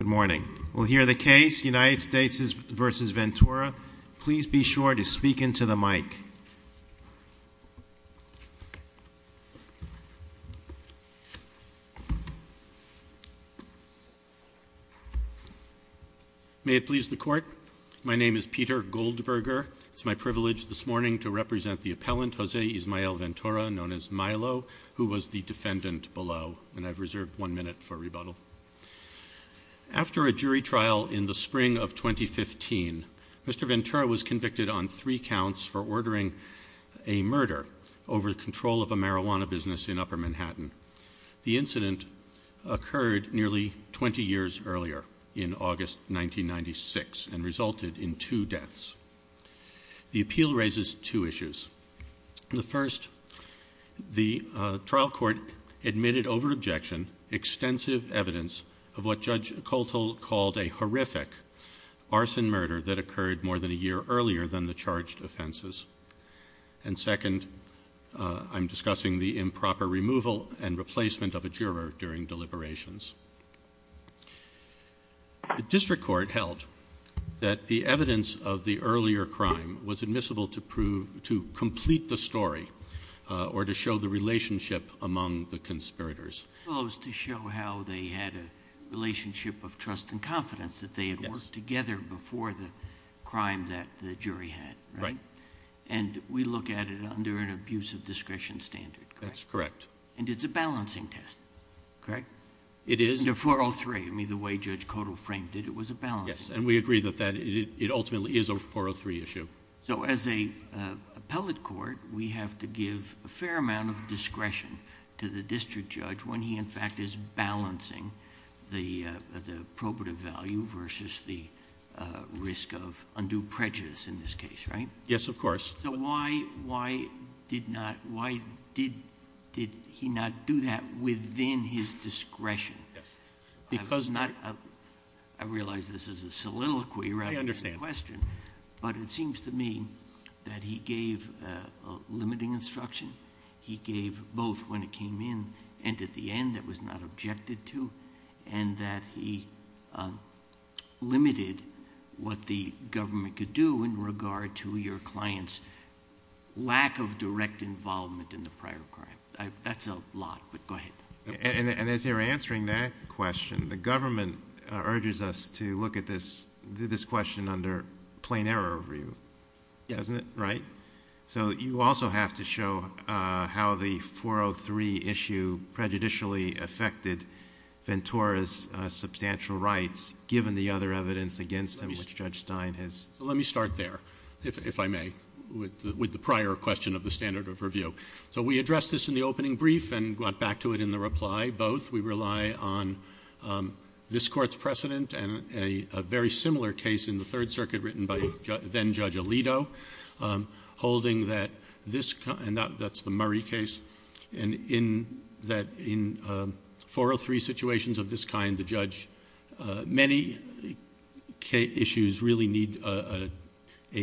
Good morning. We'll hear the case United States v. Ventura. Please be sure to speak into the mic. May it please the court. My name is Peter Goldberger. It's my privilege this morning to represent the appellant, Jose Ismael Ventura, known as Milo, who was the defendant below. And I've reserved one minute for rebuttal. After a jury trial in the spring of 2015, Mr. Ventura was convicted on three counts for ordering a murder over control of a marijuana business in Upper Manhattan. The incident occurred nearly 20 years earlier, in August 1996, and resulted in two deaths. The appeal raises two issues. The first, the trial court admitted over objection extensive evidence of what Judge Coltle called a horrific arson murder that occurred more than a year earlier than the charged offenses. And second, I'm discussing the improper removal and replacement of a juror during deliberations. The district court held that the evidence of the earlier crime was admissible to complete the story or to show the relationship among the conspirators. Well, it was to show how they had a relationship of trust and confidence that they had worked together before the crime that the jury had, right? And we look at it under an abuse of discretion standard, correct? That's correct. And it's a balancing test, correct? It is. Under 403. I mean, the way Judge Coltle framed it, it was a balancing test. Yes, and we agree that it ultimately is a 403 issue. So as an appellate court, we have to give a fair amount of discretion to the district judge when he in fact is balancing the probative value versus the risk of undue prejudice in this case, right? Yes, of course. So why did he not do that within his discretion? I realize this is a soliloquy rather than a question. I understand. But it seems to me that he gave limiting instruction. He gave both when it came in and at the end that was not objected to and that he limited what the government could do in regard to your client's lack of direct involvement in the prior crime. That's a lot, but go ahead. And as you're answering that question, the government urges us to look at this question under plain error review, doesn't it? Yes. Right? So you also have to show how the 403 issue prejudicially affected Ventura's substantial rights, given the other evidence against him which Judge Stein has— Let me start there, if I may, with the prior question of the standard of review. So we addressed this in the opening brief and got back to it in the reply, both. We rely on this Court's precedent and a very similar case in the Third Circuit written by then-Judge Alito, holding that this—and that's the Murray case—that in 403 situations of this kind, the judge—many issues really need an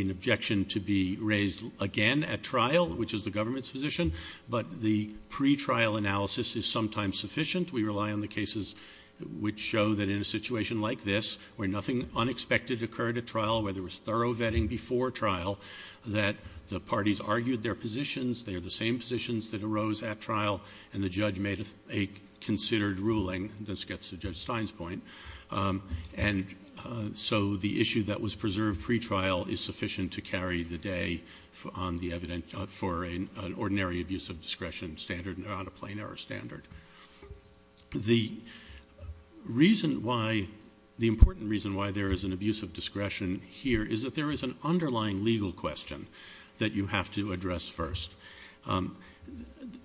objection to be raised again at trial, which is the government's position, but the pretrial analysis is sometimes sufficient. We rely on the cases which show that in a situation like this, where nothing unexpected occurred at trial, where there was thorough vetting before trial, that the parties argued their positions, they are the same positions that arose at trial, and the judge made a considered ruling. This gets to Judge Stein's point. And so the issue that was preserved pretrial is sufficient to carry the day on the evidence for an ordinary abuse of discretion standard, not a plain error standard. The reason why—the important reason why there is an abuse of discretion here is that there is an underlying legal question that you have to address first.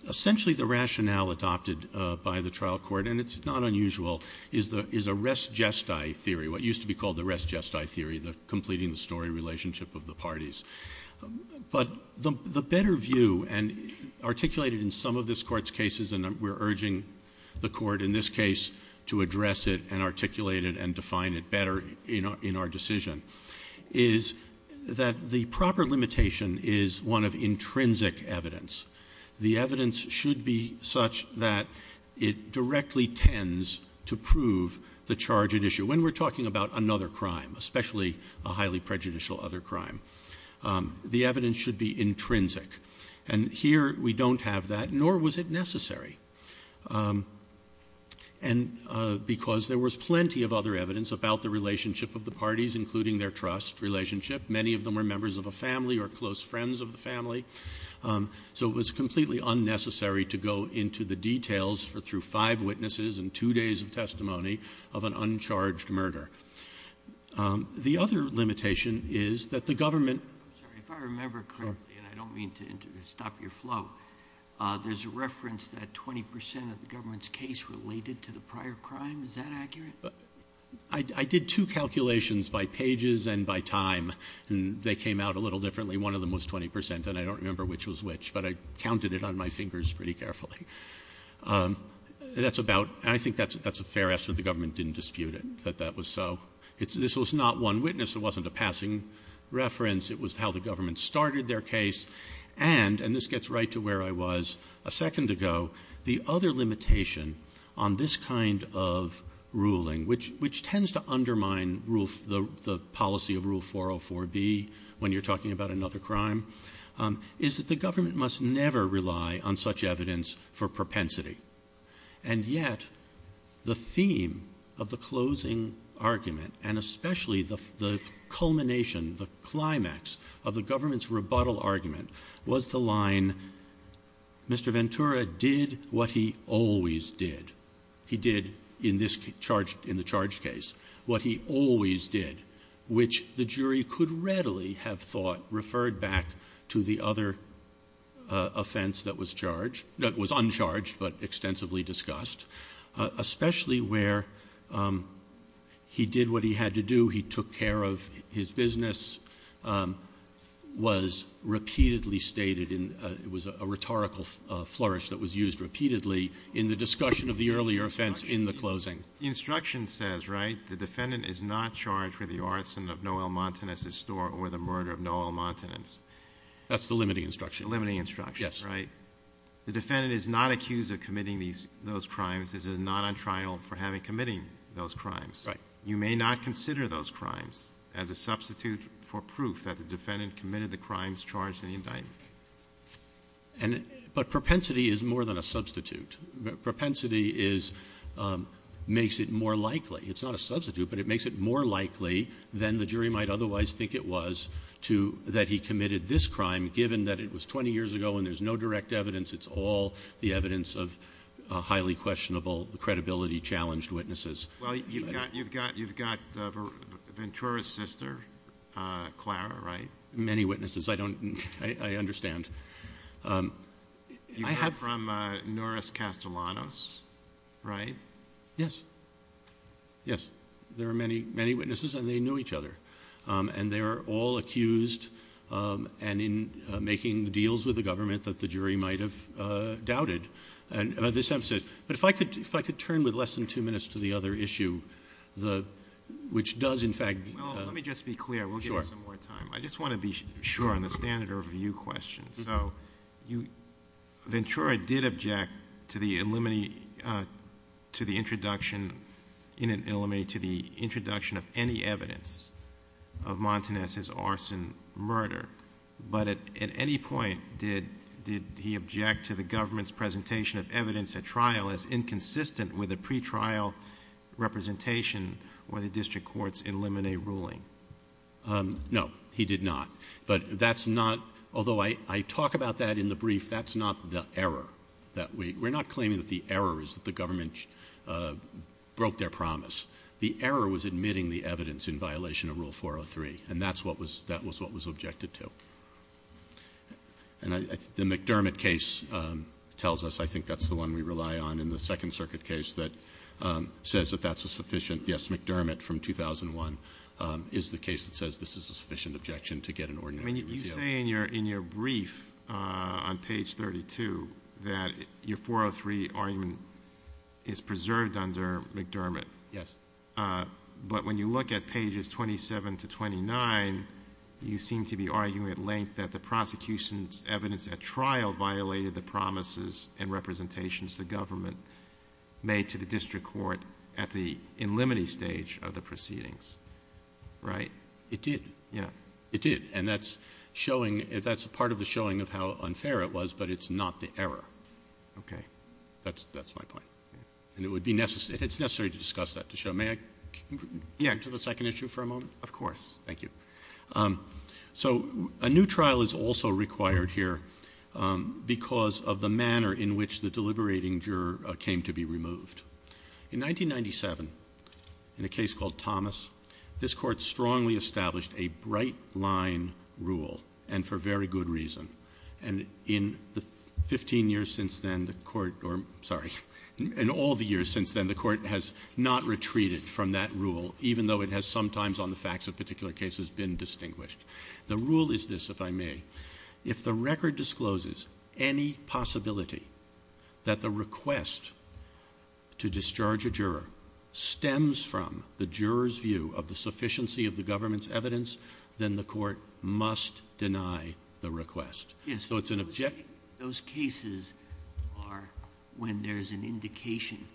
Essentially, the rationale adopted by the trial court, and it's not unusual, is a res gestae theory, what used to be called the res gestae theory, the completing the story relationship of the parties. But the better view, and articulated in some of this Court's cases, and we're urging the Court in this case to address it and articulate it and define it better in our decision, is that the proper limitation is one of intrinsic evidence. The evidence should be such that it directly tends to prove the charge at issue. When we're talking about another crime, especially a highly prejudicial other crime, the evidence should be intrinsic. And here we don't have that, nor was it necessary. And because there was plenty of other evidence about the relationship of the parties, including their trust relationship, many of them were members of a family or close friends of the family. So it was completely unnecessary to go into the details through five witnesses and two days of testimony of an uncharged murder. The other limitation is that the government— I'm sorry. If I remember correctly, and I don't mean to stop your flow, there's a reference that 20 percent of the government's case related to the prior crime. Is that accurate? I did two calculations by pages and by time, and they came out a little differently. One of them was 20 percent, and I don't remember which was which, but I counted it on my fingers pretty carefully. That's about—I think that's a fair estimate. The government didn't dispute it, that that was so. This was not one witness. It wasn't a passing reference. It was how the government started their case. And—and this gets right to where I was a second ago— the other limitation on this kind of ruling, which tends to undermine the policy of Rule 404B when you're talking about another crime, is that the government must never rely on such evidence for propensity. And yet the theme of the closing argument, and especially the culmination, the climax of the government's rebuttal argument, was the line, Mr. Ventura did what he always did. He did, in this charge—in the charged case, what he always did, which the jury could readily have thought referred back to the other offense that was charged, that was uncharged but extensively discussed, especially where he did what he had to do. Who he took care of his business was repeatedly stated in— it was a rhetorical flourish that was used repeatedly in the discussion of the earlier offense in the closing. The instruction says, right, the defendant is not charged with the arson of Noel Montanez's store or the murder of Noel Montanez. That's the limiting instruction. The limiting instruction, right? Yes. The defendant is not accused of committing these—those crimes. This is not on trial for having committed those crimes. Right. You may not consider those crimes as a substitute for proof that the defendant committed the crimes charged in the indictment. And—but propensity is more than a substitute. Propensity is—makes it more likely—it's not a substitute, but it makes it more likely than the jury might otherwise think it was to—that he committed this crime, given that it was 20 years ago and there's no direct evidence. It's all the evidence of highly questionable, credibility-challenged witnesses. Well, you've got Ventura's sister, Clara, right? Many witnesses. I don't—I understand. I have— You heard from Norris Castellanos, right? Yes. Yes. There are many, many witnesses, and they knew each other. And they are all accused and in making deals with the government that the jury might have doubted. But if I could turn with less than two minutes to the other issue, which does in fact— Well, let me just be clear. Sure. We'll give you some more time. I just want to be sure on the standard overview question. So Ventura did object to the—to the introduction— in an—to the introduction of any evidence of Montanez's arson murder, but at any point did—did he object to the government's presentation of evidence at trial as inconsistent with a pretrial representation where the district courts eliminate ruling? No, he did not. But that's not—although I talk about that in the brief, that's not the error that we— we're not claiming that the error is that the government broke their promise. The error was admitting the evidence in violation of Rule 403, and that's what was—that was what was objected to. And the McDermott case tells us—I think that's the one we rely on in the Second Circuit case that says that that's a sufficient—yes, McDermott from 2001 is the case that says this is a sufficient objection to get an ordinary refeal. I mean, you say in your—in your brief on page 32 that your 403 argument is preserved under McDermott. Yes. But when you look at pages 27 to 29, you seem to be arguing at length that the prosecution's evidence at trial violated the promises and representations the government made to the district court at the in limine stage of the proceedings, right? It did. Yeah. It did. And that's showing—that's part of the showing of how unfair it was, but it's not the error. Okay. That's—that's my point. And it would be necessary—it's necessary to discuss that to show—may I get to the second issue for a moment? Of course. Thank you. So a new trial is also required here because of the manner in which the deliberating juror came to be removed. In 1997, in a case called Thomas, this Court strongly established a bright-line rule, and for very good reason. And in the 15 years since then, the Court—or, sorry, in all the years since then, the Court has not retreated from that rule, even though it has sometimes on the facts of particular cases been distinguished. The rule is this, if I may. If the record discloses any possibility that the request to discharge a juror stems from the juror's view of the sufficiency of the government's evidence, then the Court must deny the request. Yes. So it's an— Those cases are when there's an indication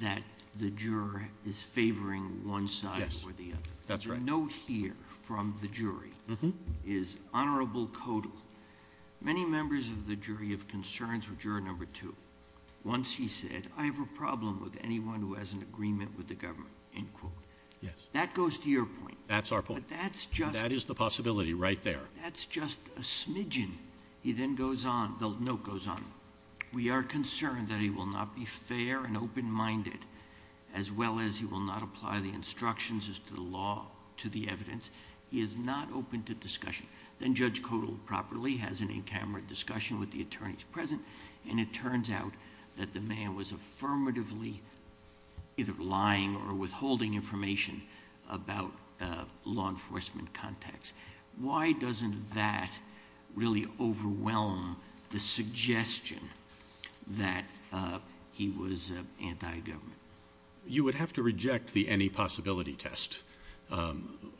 that the juror is favoring one side or the other. Yes. That's right. The note here from the jury is honorable codal. Many members of the jury of concerns with juror number two, once he said, I have a problem with anyone who has an agreement with the government, end quote. Yes. That goes to your point. That's our point. But that's just— That is the possibility right there. That's just a smidgen. He then goes on. The note goes on. We are concerned that he will not be fair and open-minded, as well as he will not apply the instructions as to the law to the evidence. He is not open to discussion. Then Judge Codal properly has an in-camera discussion with the attorneys present, and it turns out that the man was affirmatively either lying or withholding information about law enforcement contacts. Why doesn't that really overwhelm the suggestion that he was anti-government? You would have to reject the any possibility test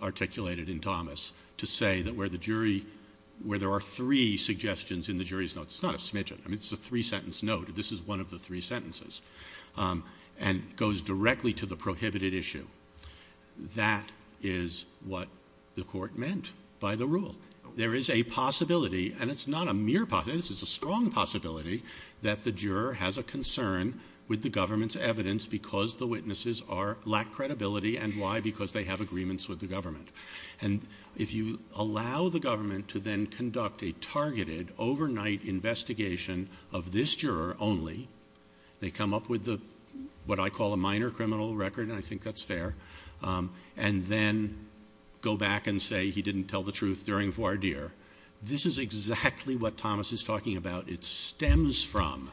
articulated in Thomas to say that where the jury—where there are three suggestions in the jury's notes. It's not a smidgen. I mean, it's a three-sentence note. This is one of the three sentences. And it goes directly to the prohibited issue. That is what the Court meant by the rule. There is a possibility, and it's not a mere possibility. This is a strong possibility that the juror has a concern with the government's evidence because the witnesses are—lack credibility. And why? Because they have agreements with the government. And if you allow the government to then conduct a targeted, overnight investigation of this juror only, they come up with what I call a minor criminal record, and I think that's fair, and then go back and say he didn't tell the truth during voir dire. This is exactly what Thomas is talking about. It stems from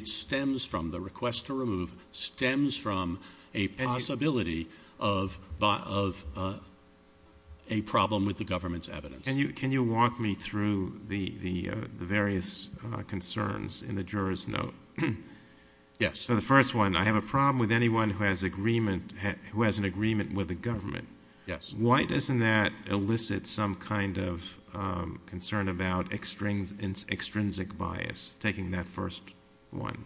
the request to remove, stems from a possibility of a problem with the government's evidence. Can you walk me through the various concerns in the juror's note? Yes. So the first one, I have a problem with anyone who has an agreement with the government. Yes. Why doesn't that elicit some kind of concern about extrinsic bias, taking that first one?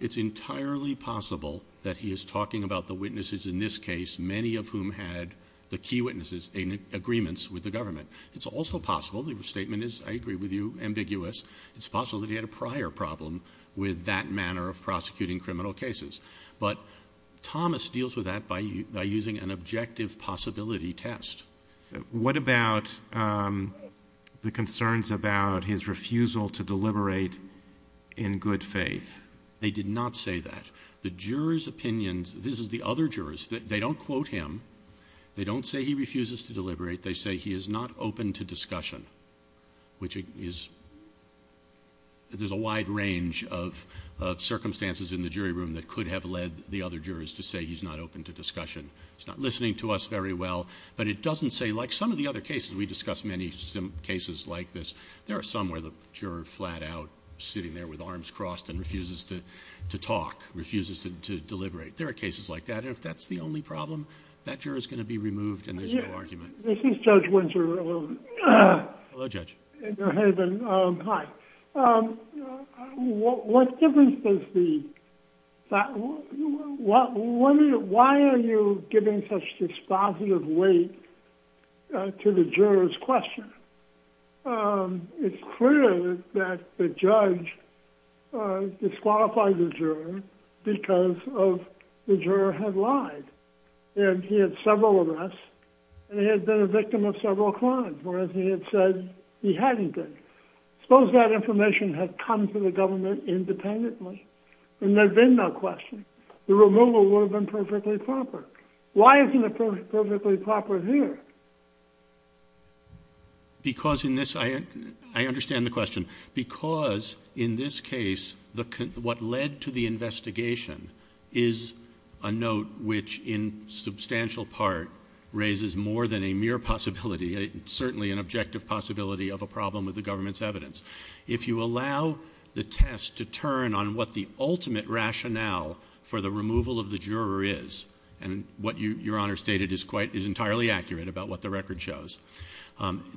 It's entirely possible that he is talking about the witnesses in this case, many of whom had the key witnesses' agreements with the government. It's also possible, the statement is, I agree with you, ambiguous, it's possible that he had a prior problem with that manner of prosecuting criminal cases. But Thomas deals with that by using an objective possibility test. What about the concerns about his refusal to deliberate in good faith? They did not say that. The juror's opinions, this is the other jurors, they don't quote him, they don't say he refuses to deliberate. They say he is not open to discussion, which is, there's a wide range of circumstances in the jury room that could have led the other jurors to say he's not open to discussion. He's not listening to us very well. But it doesn't say, like some of the other cases, we discuss many cases like this, there are some where the juror flat out sitting there with arms crossed and refuses to talk, refuses to deliberate. There are cases like that. And if that's the only problem, that juror is going to be removed and there's no argument. This is Judge Winter. Hello, Judge. Hi. What difference does the, why are you giving such dispositive weight to the juror's question? It's clear that the judge disqualified the juror because the juror had lied. And he had several arrests. And he had been a victim of several crimes, whereas he had said he hadn't been. Suppose that information had come to the government independently, and there had been no question. The removal would have been perfectly proper. Why isn't it perfectly proper here? Because in this, I understand the question. Because in this case, what led to the investigation is a note which, in substantial part, raises more than a mere possibility, certainly an objective possibility of a problem with the government's evidence. If you allow the test to turn on what the ultimate rationale for the removal of the juror, and what Your Honor stated is quite, is entirely accurate about what the record shows.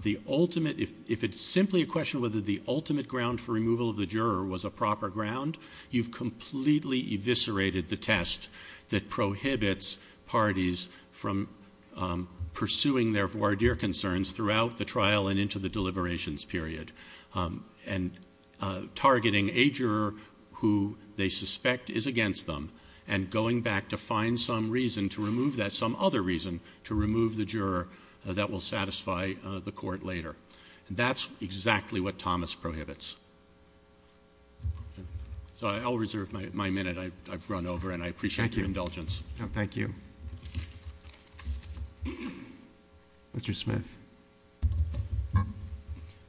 The ultimate, if it's simply a question whether the ultimate ground for removal of the juror was a proper ground, you've completely eviscerated the test that prohibits parties from pursuing their voir dire concerns throughout the trial and into the deliberations period, and targeting a juror who they suspect is against them, and going back to find some reason to remove that, some other reason to remove the juror that will satisfy the court later. That's exactly what Thomas prohibits. So I'll reserve my minute. I've run over, and I appreciate your indulgence. Thank you. Mr. Smith.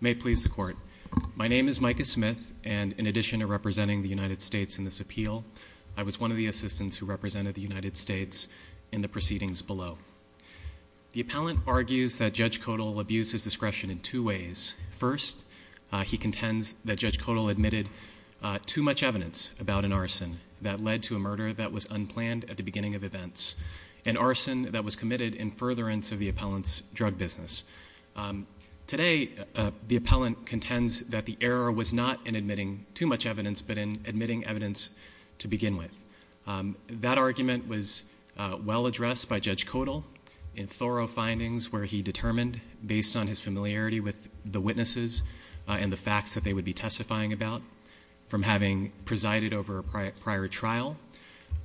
May it please the Court. My name is Micah Smith, and in addition to representing the United States in this appeal, I was one of the assistants who represented the United States in the proceedings below. The appellant argues that Judge Kodal abused his discretion in two ways. First, he contends that Judge Kodal admitted too much evidence about an arson that led to a murder that was unplanned at the beginning of events, an arson that was committed in furtherance of the appellant's drug business. Today, the appellant contends that the error was not in admitting too much evidence, but in admitting evidence to begin with. That argument was well addressed by Judge Kodal in thorough findings where he determined, based on his familiarity with the witnesses and the facts that they would be testifying about, from having presided over a prior trial,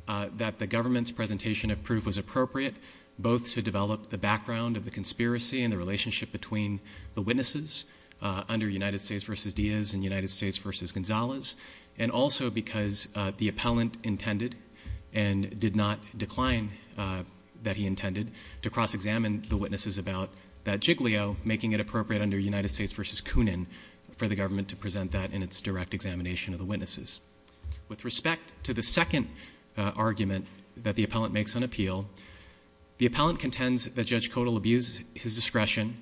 that the government's presentation of proof was appropriate, both to develop the background of the conspiracy and the relationship between the witnesses under United States v. Diaz and United States v. Gonzalez, and also because the appellant intended and did not decline that he intended to cross-examine the witnesses about that jiggly-o, making it appropriate under United States v. Coonan for the government to present that in its direct examination of the witnesses. With respect to the second argument that the appellant makes on appeal, the appellant contends that Judge Kodal abused his discretion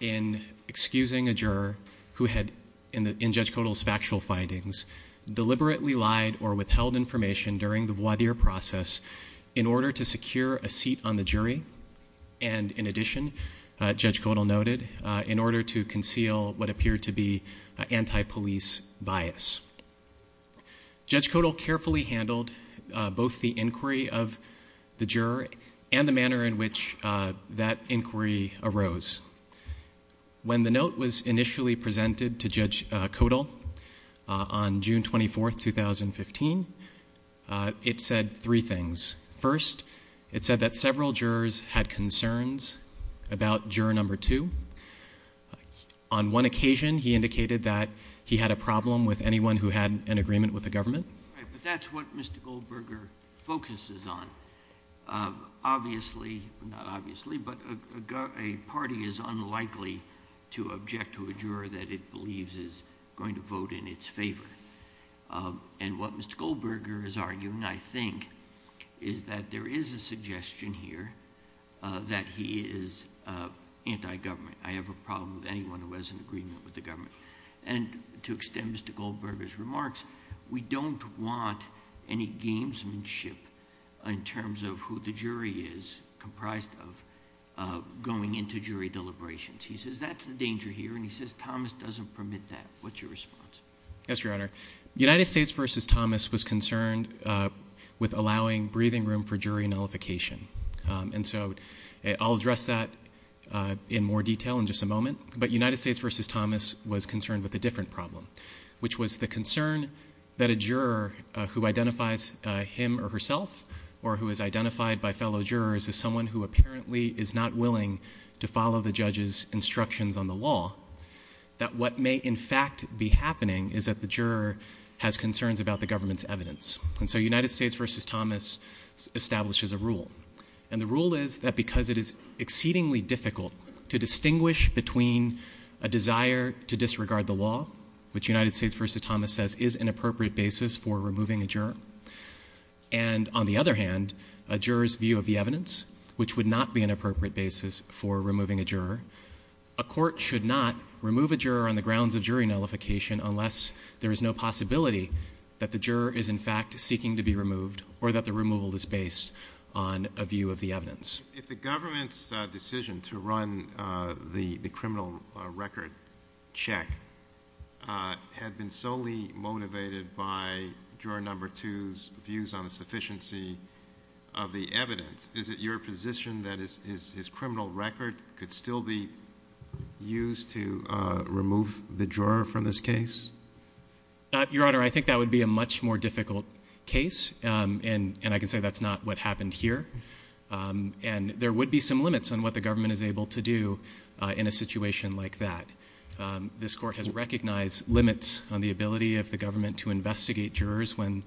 in excusing a juror who had, in Judge Kodal's factual findings, deliberately lied or withheld information during the voir dire process in order to secure a seat on the jury, and in addition, Judge Kodal noted, in order to conceal what appeared to be anti-police bias. Judge Kodal carefully handled both the inquiry of the juror and the manner in which that inquiry arose. When the note was initially presented to Judge Kodal on June 24, 2015, it said three things. First, it said that several jurors had concerns about juror number two. On one occasion, he indicated that he had a problem with anyone who had an agreement with the government. But that's what Mr. Goldberger focuses on. Obviously, not obviously, but a party is unlikely to object to a juror that it believes is going to vote in its favor. And what Mr. Goldberger is arguing, I think, is that there is a suggestion here that he is anti-government. I have a problem with anyone who has an agreement with the government. And to extend Mr. Goldberger's remarks, we don't want any gamesmanship in terms of who the jury is comprised of going into jury deliberations. He says that's the danger here, and he says Thomas doesn't permit that. What's your response? Yes, Your Honor. United States v. Thomas was concerned with allowing breathing room for jury nullification. And so I'll address that in more detail in just a moment. But United States v. Thomas was concerned with a different problem, which was the concern that a juror who identifies him or herself or who is identified by fellow jurors as someone who apparently is not willing to follow the judge's instructions on the law, that what may in fact be happening is that the juror has concerns about the government's evidence. And so United States v. Thomas establishes a rule. And the rule is that because it is exceedingly difficult to distinguish between a desire to disregard the law, which United States v. Thomas says is an appropriate basis for removing a juror, and on the other hand a juror's view of the evidence, which would not be an appropriate basis for removing a juror, a court should not remove a juror on the grounds of jury nullification unless there is no possibility that the juror is in fact seeking to be removed or that the removal is based on a view of the evidence. If the government's decision to run the criminal record check had been solely motivated by juror number two's views on the sufficiency of the evidence, is it your position that his criminal record could still be used to remove the juror from this case? Your Honor, I think that would be a much more difficult case, and I can say that's not what happened here. And there would be some limits on what the government is able to do in a situation like that. This court has recognized limits on the ability of the government to investigate jurors when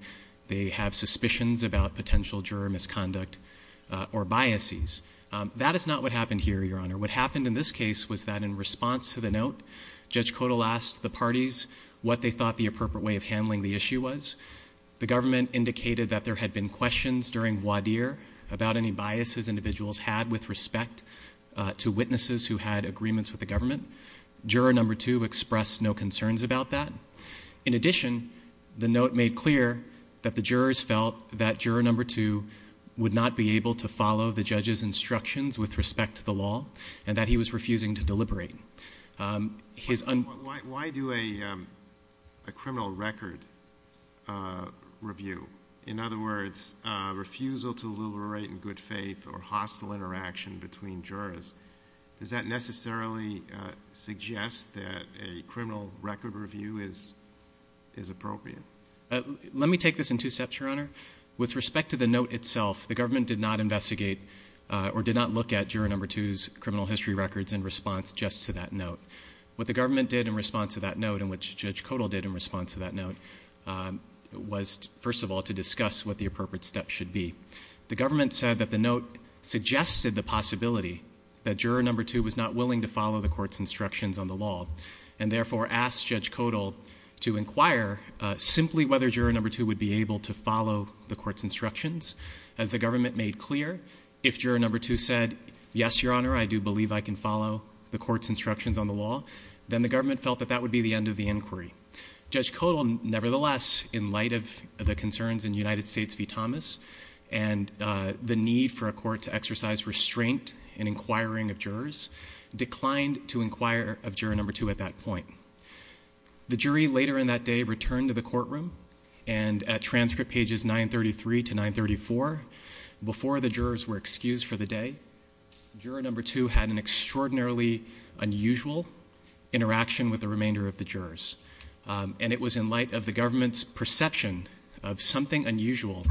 they have suspicions about potential juror misconduct or biases. That is not what happened here, Your Honor. What happened in this case was that in response to the note, Judge Kotal asked the parties what they thought the appropriate way of handling the issue was. The government indicated that there had been questions during voir dire about any biases individuals had with respect to witnesses who had agreements with the government. Juror number two expressed no concerns about that. In addition, the note made clear that the jurors felt that he would not be able to follow the judge's instructions with respect to the law and that he was refusing to deliberate. Why do a criminal record review, in other words, refusal to deliberate in good faith or hostile interaction between jurors, does that necessarily suggest that a criminal record review is appropriate? Let me take this in two steps, Your Honor. With respect to the note itself, the government did not investigate or did not look at juror number two's criminal history records in response just to that note. What the government did in response to that note and what Judge Kotal did in response to that note was, first of all, to discuss what the appropriate steps should be. The government said that the note suggested the possibility that juror number two was not willing to follow the court's instructions on the law and therefore asked Judge Kotal to inquire simply whether juror number two would be able to follow the court's instructions. As the government made clear, if juror number two said, yes, Your Honor, I do believe I can follow the court's instructions on the law, then the government felt that that would be the end of the inquiry. Judge Kotal, nevertheless, in light of the concerns in United States v. Thomas and the need for a court to exercise restraint in inquiring of jurors, declined to inquire of juror number two at that point. The jury later in that day returned to the courtroom, and at transcript pages 933 to 934, before the jurors were excused for the day, juror number two had an extraordinarily unusual interaction with the remainder of the jurors. And it was in light of the government's perception of something unusual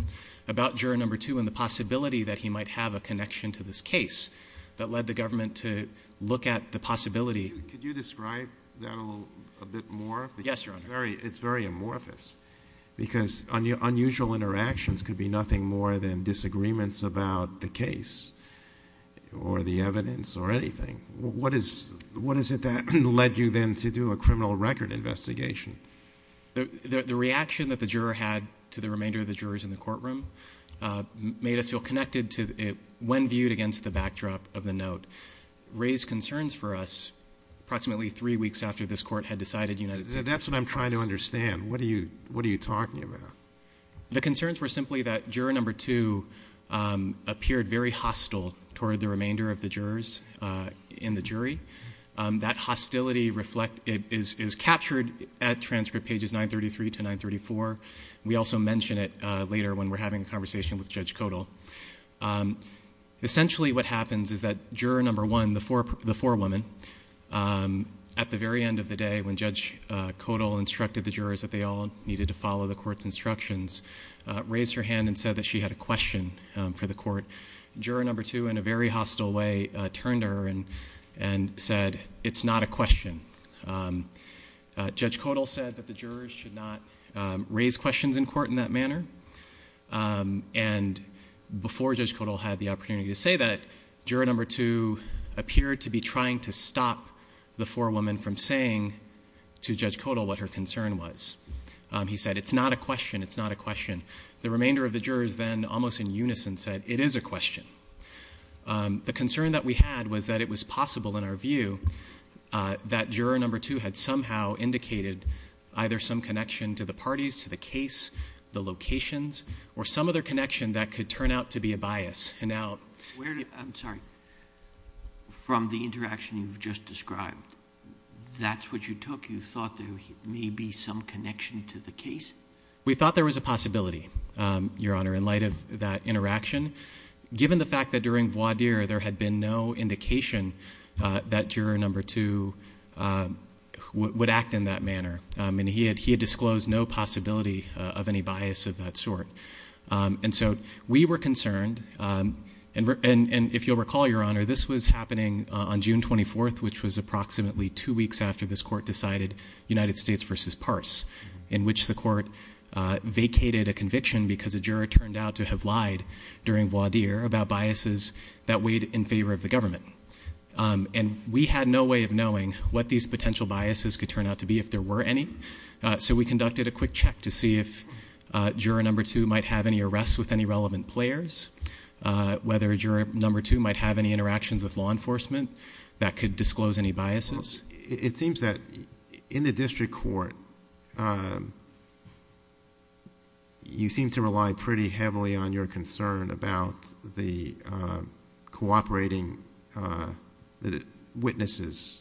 about juror number two and the possibility that he might have a connection to this case that led the government to look at the possibility. Could you describe that a bit more? Yes, Your Honor. It's very amorphous because unusual interactions could be nothing more than disagreements about the case or the evidence or anything. What is it that led you then to do a criminal record investigation? The reaction that the juror had to the remainder of the jurors in the courtroom made us feel connected to it when viewed against the backdrop of the note, raised concerns for us approximately three weeks after this court had decided United States of Congress. That's what I'm trying to understand. What are you talking about? The concerns were simply that juror number two appeared very hostile toward the remainder of the jurors in the jury. That hostility is captured at transcript pages 933 to 934. We also mention it later when we're having a conversation with Judge Kodal. Essentially what happens is that juror number one, the forewoman, at the very end of the day when Judge Kodal instructed the jurors that they all needed to follow the court's instructions, raised her hand and said that she had a question for the court. Juror number two, in a very hostile way, turned to her and said, it's not a question. Judge Kodal said that the jurors should not raise questions in court in that manner. And before Judge Kodal had the opportunity to say that, juror number two appeared to be trying to stop the forewoman from saying to Judge Kodal what her concern was. He said, it's not a question. It's not a question. The remainder of the jurors then almost in unison said, it is a question. The concern that we had was that it was possible in our view that juror number two had somehow indicated either some connection to the parties, to the case, the locations, or some other connection that could turn out to be a bias. And now- I'm sorry. From the interaction you've just described, that's what you took? You thought there may be some connection to the case? We thought there was a possibility, Your Honor, in light of that interaction. Given the fact that during voir dire there had been no indication that juror number two would act in that manner. And he had disclosed no possibility of any bias of that sort. And so we were concerned. And if you'll recall, Your Honor, this was happening on June 24th, which was approximately two weeks after this court decided United States versus Parse, in which the court vacated a conviction because a juror turned out to have lied during voir dire about biases that weighed in favor of the government. And we had no way of knowing what these potential biases could turn out to be, if there were any. So we conducted a quick check to see if juror number two might have any arrests with any relevant players, whether juror number two might have any interactions with law enforcement that could disclose any biases. It seems that in the district court, you seem to rely pretty heavily on your concern about the cooperating witnesses'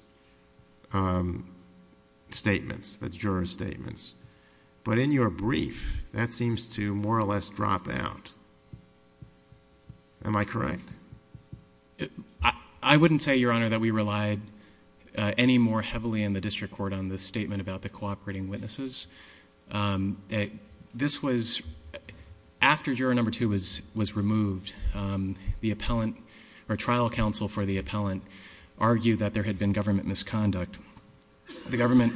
statements, the jurors' statements. But in your brief, that seems to more or less drop out. Am I correct? I wouldn't say, Your Honor, that we relied any more heavily in the district court on the statement about the cooperating witnesses. This was after juror number two was removed. The trial counsel for the appellant argued that there had been government misconduct. The government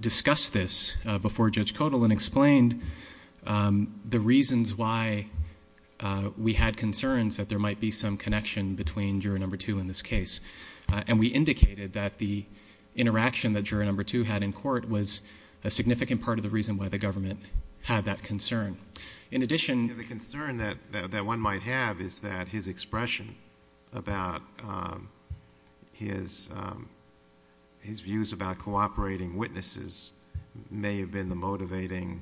discussed this before Judge Kotel and explained the reasons why we had concerns that there might be some connection between juror number two in this case. And we indicated that the interaction that juror number two had in court was a significant part of the reason why the government had that concern. The concern that one might have is that his expression about his views about cooperating witnesses may have been the motivating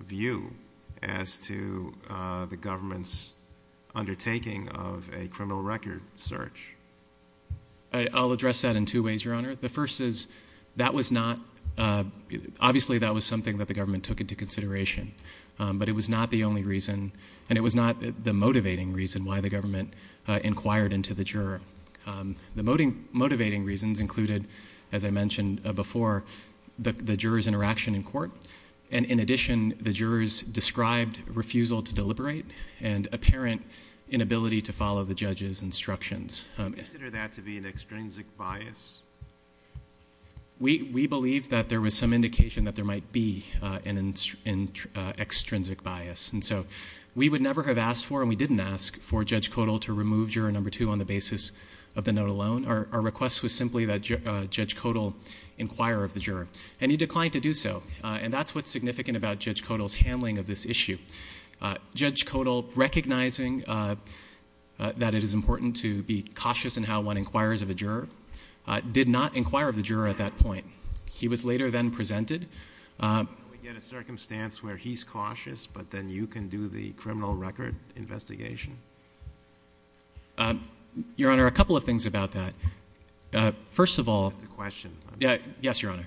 view as to the government's undertaking of a criminal record search. I'll address that in two ways, Your Honor. The first is, obviously, that was something that the government took into consideration. But it was not the only reason, and it was not the motivating reason why the government inquired into the juror. The motivating reasons included, as I mentioned before, the juror's interaction in court. And in addition, the juror's described refusal to deliberate and apparent inability to follow the judge's instructions. Do you consider that to be an extrinsic bias? We believe that there was some indication that there might be an extrinsic bias. And so we would never have asked for, and we didn't ask for, Judge Kotel to remove juror number two on the basis of the note alone. Our request was simply that Judge Kotel inquire of the juror. And he declined to do so. And that's what's significant about Judge Kotel's handling of this issue. Judge Kotel, recognizing that it is important to be cautious in how one inquires of a juror, did not inquire of the juror at that point. He was later then presented. We get a circumstance where he's cautious, but then you can do the criminal record investigation? Your Honor, a couple of things about that. First of all. That's a question. Yes, Your Honor.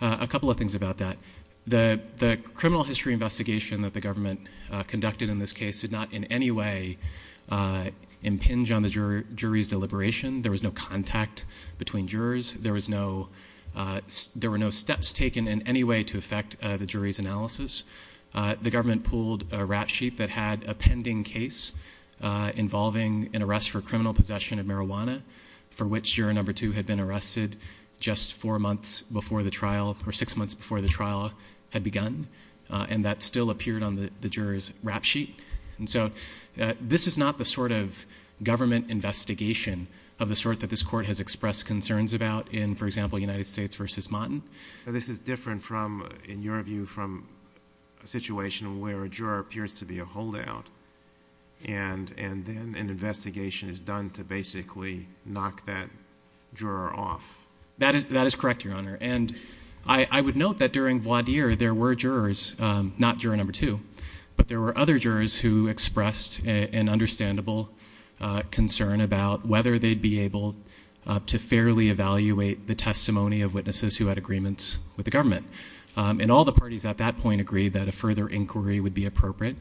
A couple of things about that. The criminal history investigation that the government conducted in this case did not in any way impinge on the jury's deliberation. There was no contact between jurors. There were no steps taken in any way to affect the jury's analysis. The government pulled a rap sheet that had a pending case involving an arrest for criminal possession of marijuana, for which juror number two had been arrested just four months before the trial, or six months before the trial had begun. And that still appeared on the juror's rap sheet. And so this is not the sort of government investigation of the sort that this court has expressed concerns about in, for example, United States v. Motton. This is different from, in your view, from a situation where a juror appears to be a holdout, and then an investigation is done to basically knock that juror off. That is correct, Your Honor. And I would note that during Voidir there were jurors, not juror number two, but there were other jurors who expressed an understandable concern about whether they'd be able to fairly evaluate the testimony of witnesses who had agreements with the government. And all the parties at that point agreed that a further inquiry would be appropriate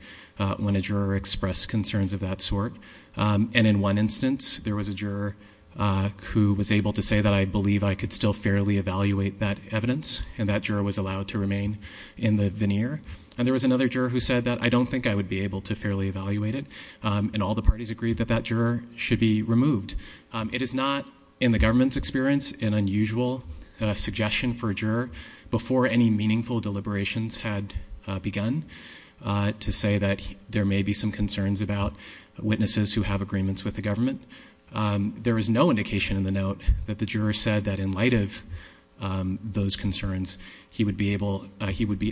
when a juror expressed concerns of that sort. And in one instance there was a juror who was able to say that I believe I could still fairly evaluate that evidence, and that juror was allowed to remain in the veneer. And there was another juror who said that I don't think I would be able to fairly evaluate it, and all the parties agreed that that juror should be removed. It is not in the government's experience an unusual suggestion for a juror before any meaningful deliberations had begun to say that there may be some concerns about witnesses who have agreements with the government. There is no indication in the note that the juror said that in light of those concerns, he would be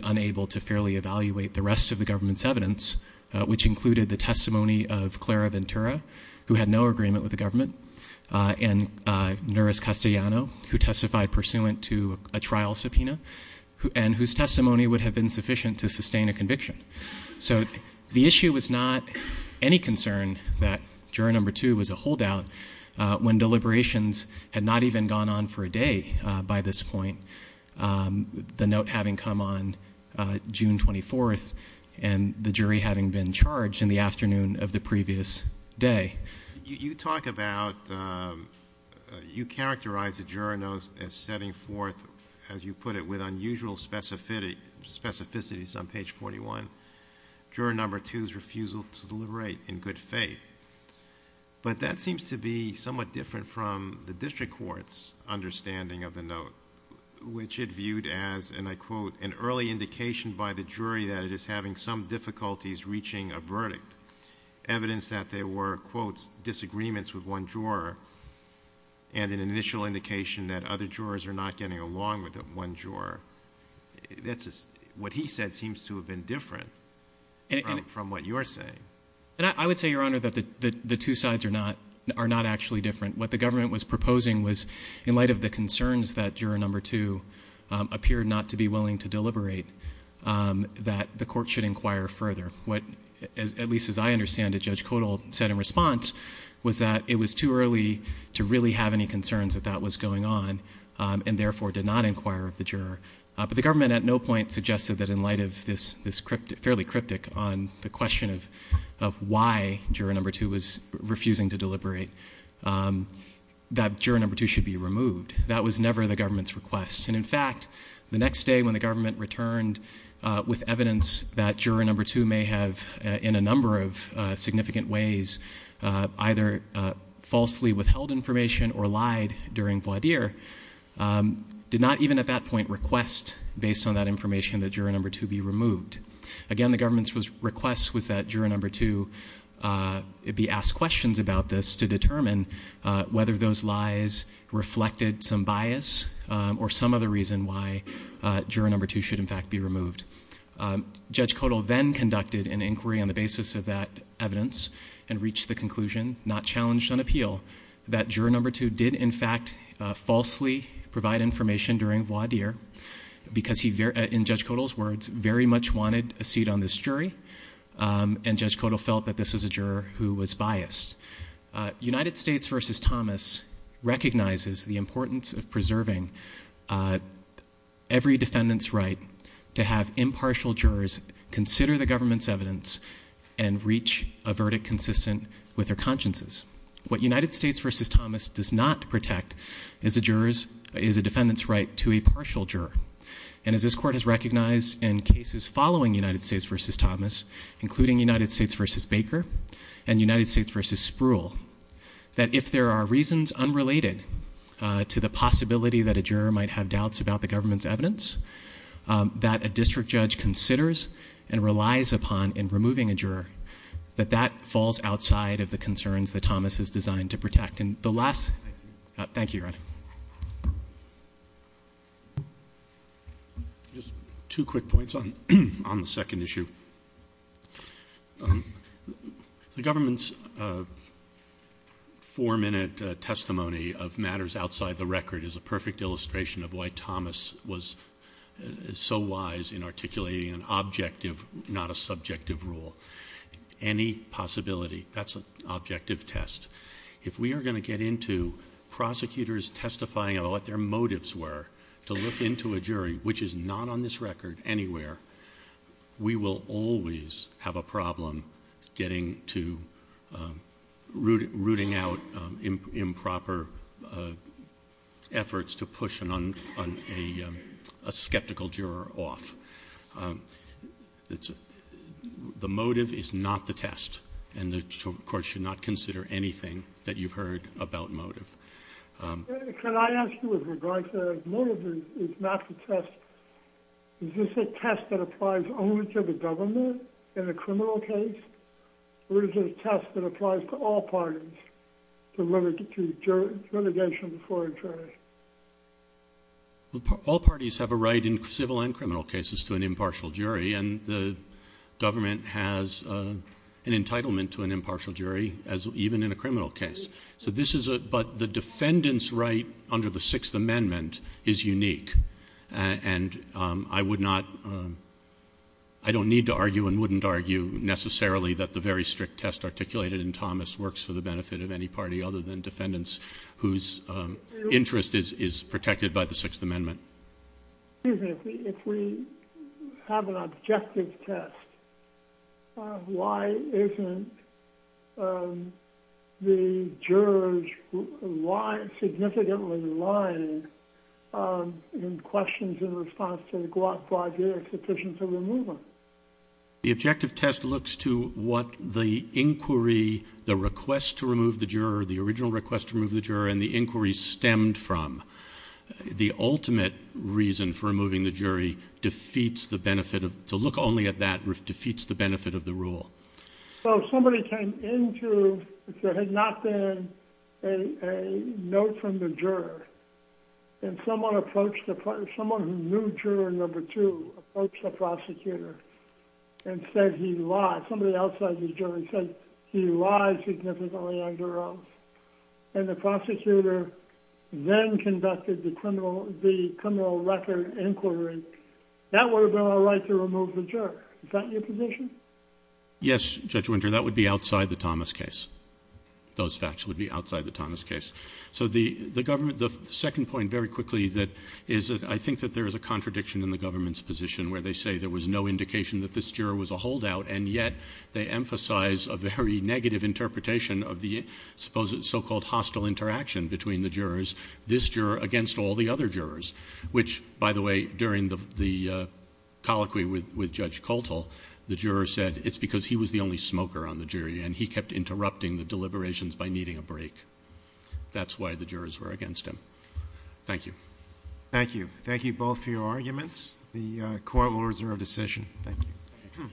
unable to fairly evaluate the rest of the government's evidence, which included the testimony of Clara Ventura, who had no agreement with the government, and Nouris Castellano, who testified pursuant to a trial subpoena, and whose testimony would have been sufficient to sustain a conviction. So the issue was not any concern that juror number two was a holdout when deliberations had not even gone on for a day by this point, the note having come on June 24th, and the jury having been charged in the afternoon of the previous day. You talk about, you characterize the juror note as setting forth, as you put it, with unusual specificities on page 41. Juror number two's refusal to deliberate in good faith. But that seems to be somewhat different from the district court's understanding of the note, which it viewed as, and I quote, an early indication by the jury that it is having some difficulties reaching a verdict, evidence that there were, quote, disagreements with one juror, and an initial indication that other jurors are not getting along with one juror. What he said seems to have been different from what you're saying. I would say, Your Honor, that the two sides are not actually different. What the government was proposing was, in light of the concerns that juror number two appeared not to be willing to deliberate, that the court should inquire further. What, at least as I understand it, Judge Kodal said in response was that it was too early to really have any concerns that that was going on, and therefore did not inquire of the juror. But the government at no point suggested that in light of this fairly cryptic on the question of why juror number two was refusing to deliberate, that juror number two should be removed. That was never the government's request. And, in fact, the next day when the government returned with evidence that juror number two may have, in a number of significant ways, either falsely withheld information or lied during voir dire, did not even at that point request, based on that information, that juror number two be removed. Again, the government's request was that juror number two be asked questions about this to determine whether those lies reflected some bias or some other reason why juror number two should, in fact, be removed. Judge Kodal then conducted an inquiry on the basis of that evidence and reached the conclusion, not challenged on appeal, that juror number two did, in fact, falsely provide information during voir dire because he, in Judge Kodal's words, very much wanted a seat on this jury, and Judge Kodal felt that this was a juror who was biased. United States v. Thomas recognizes the importance of preserving every defendant's right to have impartial jurors consider the government's evidence and reach a verdict consistent with their consciences. What United States v. Thomas does not protect is a defendant's right to a partial juror. And as this court has recognized in cases following United States v. Thomas, including United States v. Baker and United States v. Spruill, that if there are reasons unrelated to the possibility that a juror might have doubts about the government's evidence, that a district judge considers and relies upon in removing a juror, that that falls outside of the concerns that Thomas is designed to protect. Thank you, Your Honor. Just two quick points on the second issue. The government's four-minute testimony of matters outside the record is a perfect illustration of why Thomas was so wise in articulating an objective, not a subjective, rule. Any possibility, that's an objective test. If we are going to get into prosecutors testifying about what their motives were to look into a jury, which is not on this record anywhere, we will always have a problem getting to, rooting out improper efforts to push a skeptical juror off. The motive is not the test, and the court should not consider anything that you've heard about motive. Can I ask you with regard to motive is not the test, is this a test that applies only to the government in a criminal case, or is it a test that applies to all parties to litigation before a jury? All parties have a right in civil and criminal cases to an impartial jury, and the government has an entitlement to an impartial jury even in a criminal case. But the defendant's right under the Sixth Amendment is unique, and I would not, I don't need to argue and wouldn't argue necessarily that the very strict test articulated in Thomas works for the benefit of any party other than defendants whose interest is protected by the Sixth Amendment. Excuse me, if we have an objective test, why isn't the jurors significantly lying in questions in response to the GUAC project sufficient to remove them? The objective test looks to what the inquiry, the request to remove the juror, the original request to remove the juror and the inquiry stemmed from. The ultimate reason for removing the jury defeats the benefit of, to look only at that defeats the benefit of the rule. So if somebody came into, if there had not been a note from the juror, and someone approached, someone who knew juror number two approached the prosecutor and said he lied, somebody outside the jury said he lied significantly under oath, and the prosecutor then conducted the criminal record inquiry, that would have been all right to remove the juror. Is that your position? Yes, Judge Winter, that would be outside the Thomas case. Those facts would be outside the Thomas case. So the government, the second point, very quickly, that is that I think that there is a contradiction in the government's position where they say there was no indication that this juror was a holdout, and yet they emphasize a very negative interpretation of the so-called hostile interaction between the jurors, this juror against all the other jurors, which, by the way, during the colloquy with Judge Coltle, the juror said it's because he was the only smoker on the jury and he kept interrupting the deliberations by needing a break. That's why the jurors were against him. Thank you. Thank you. Thank you both for your arguments. The Court will reserve decision. Thank you.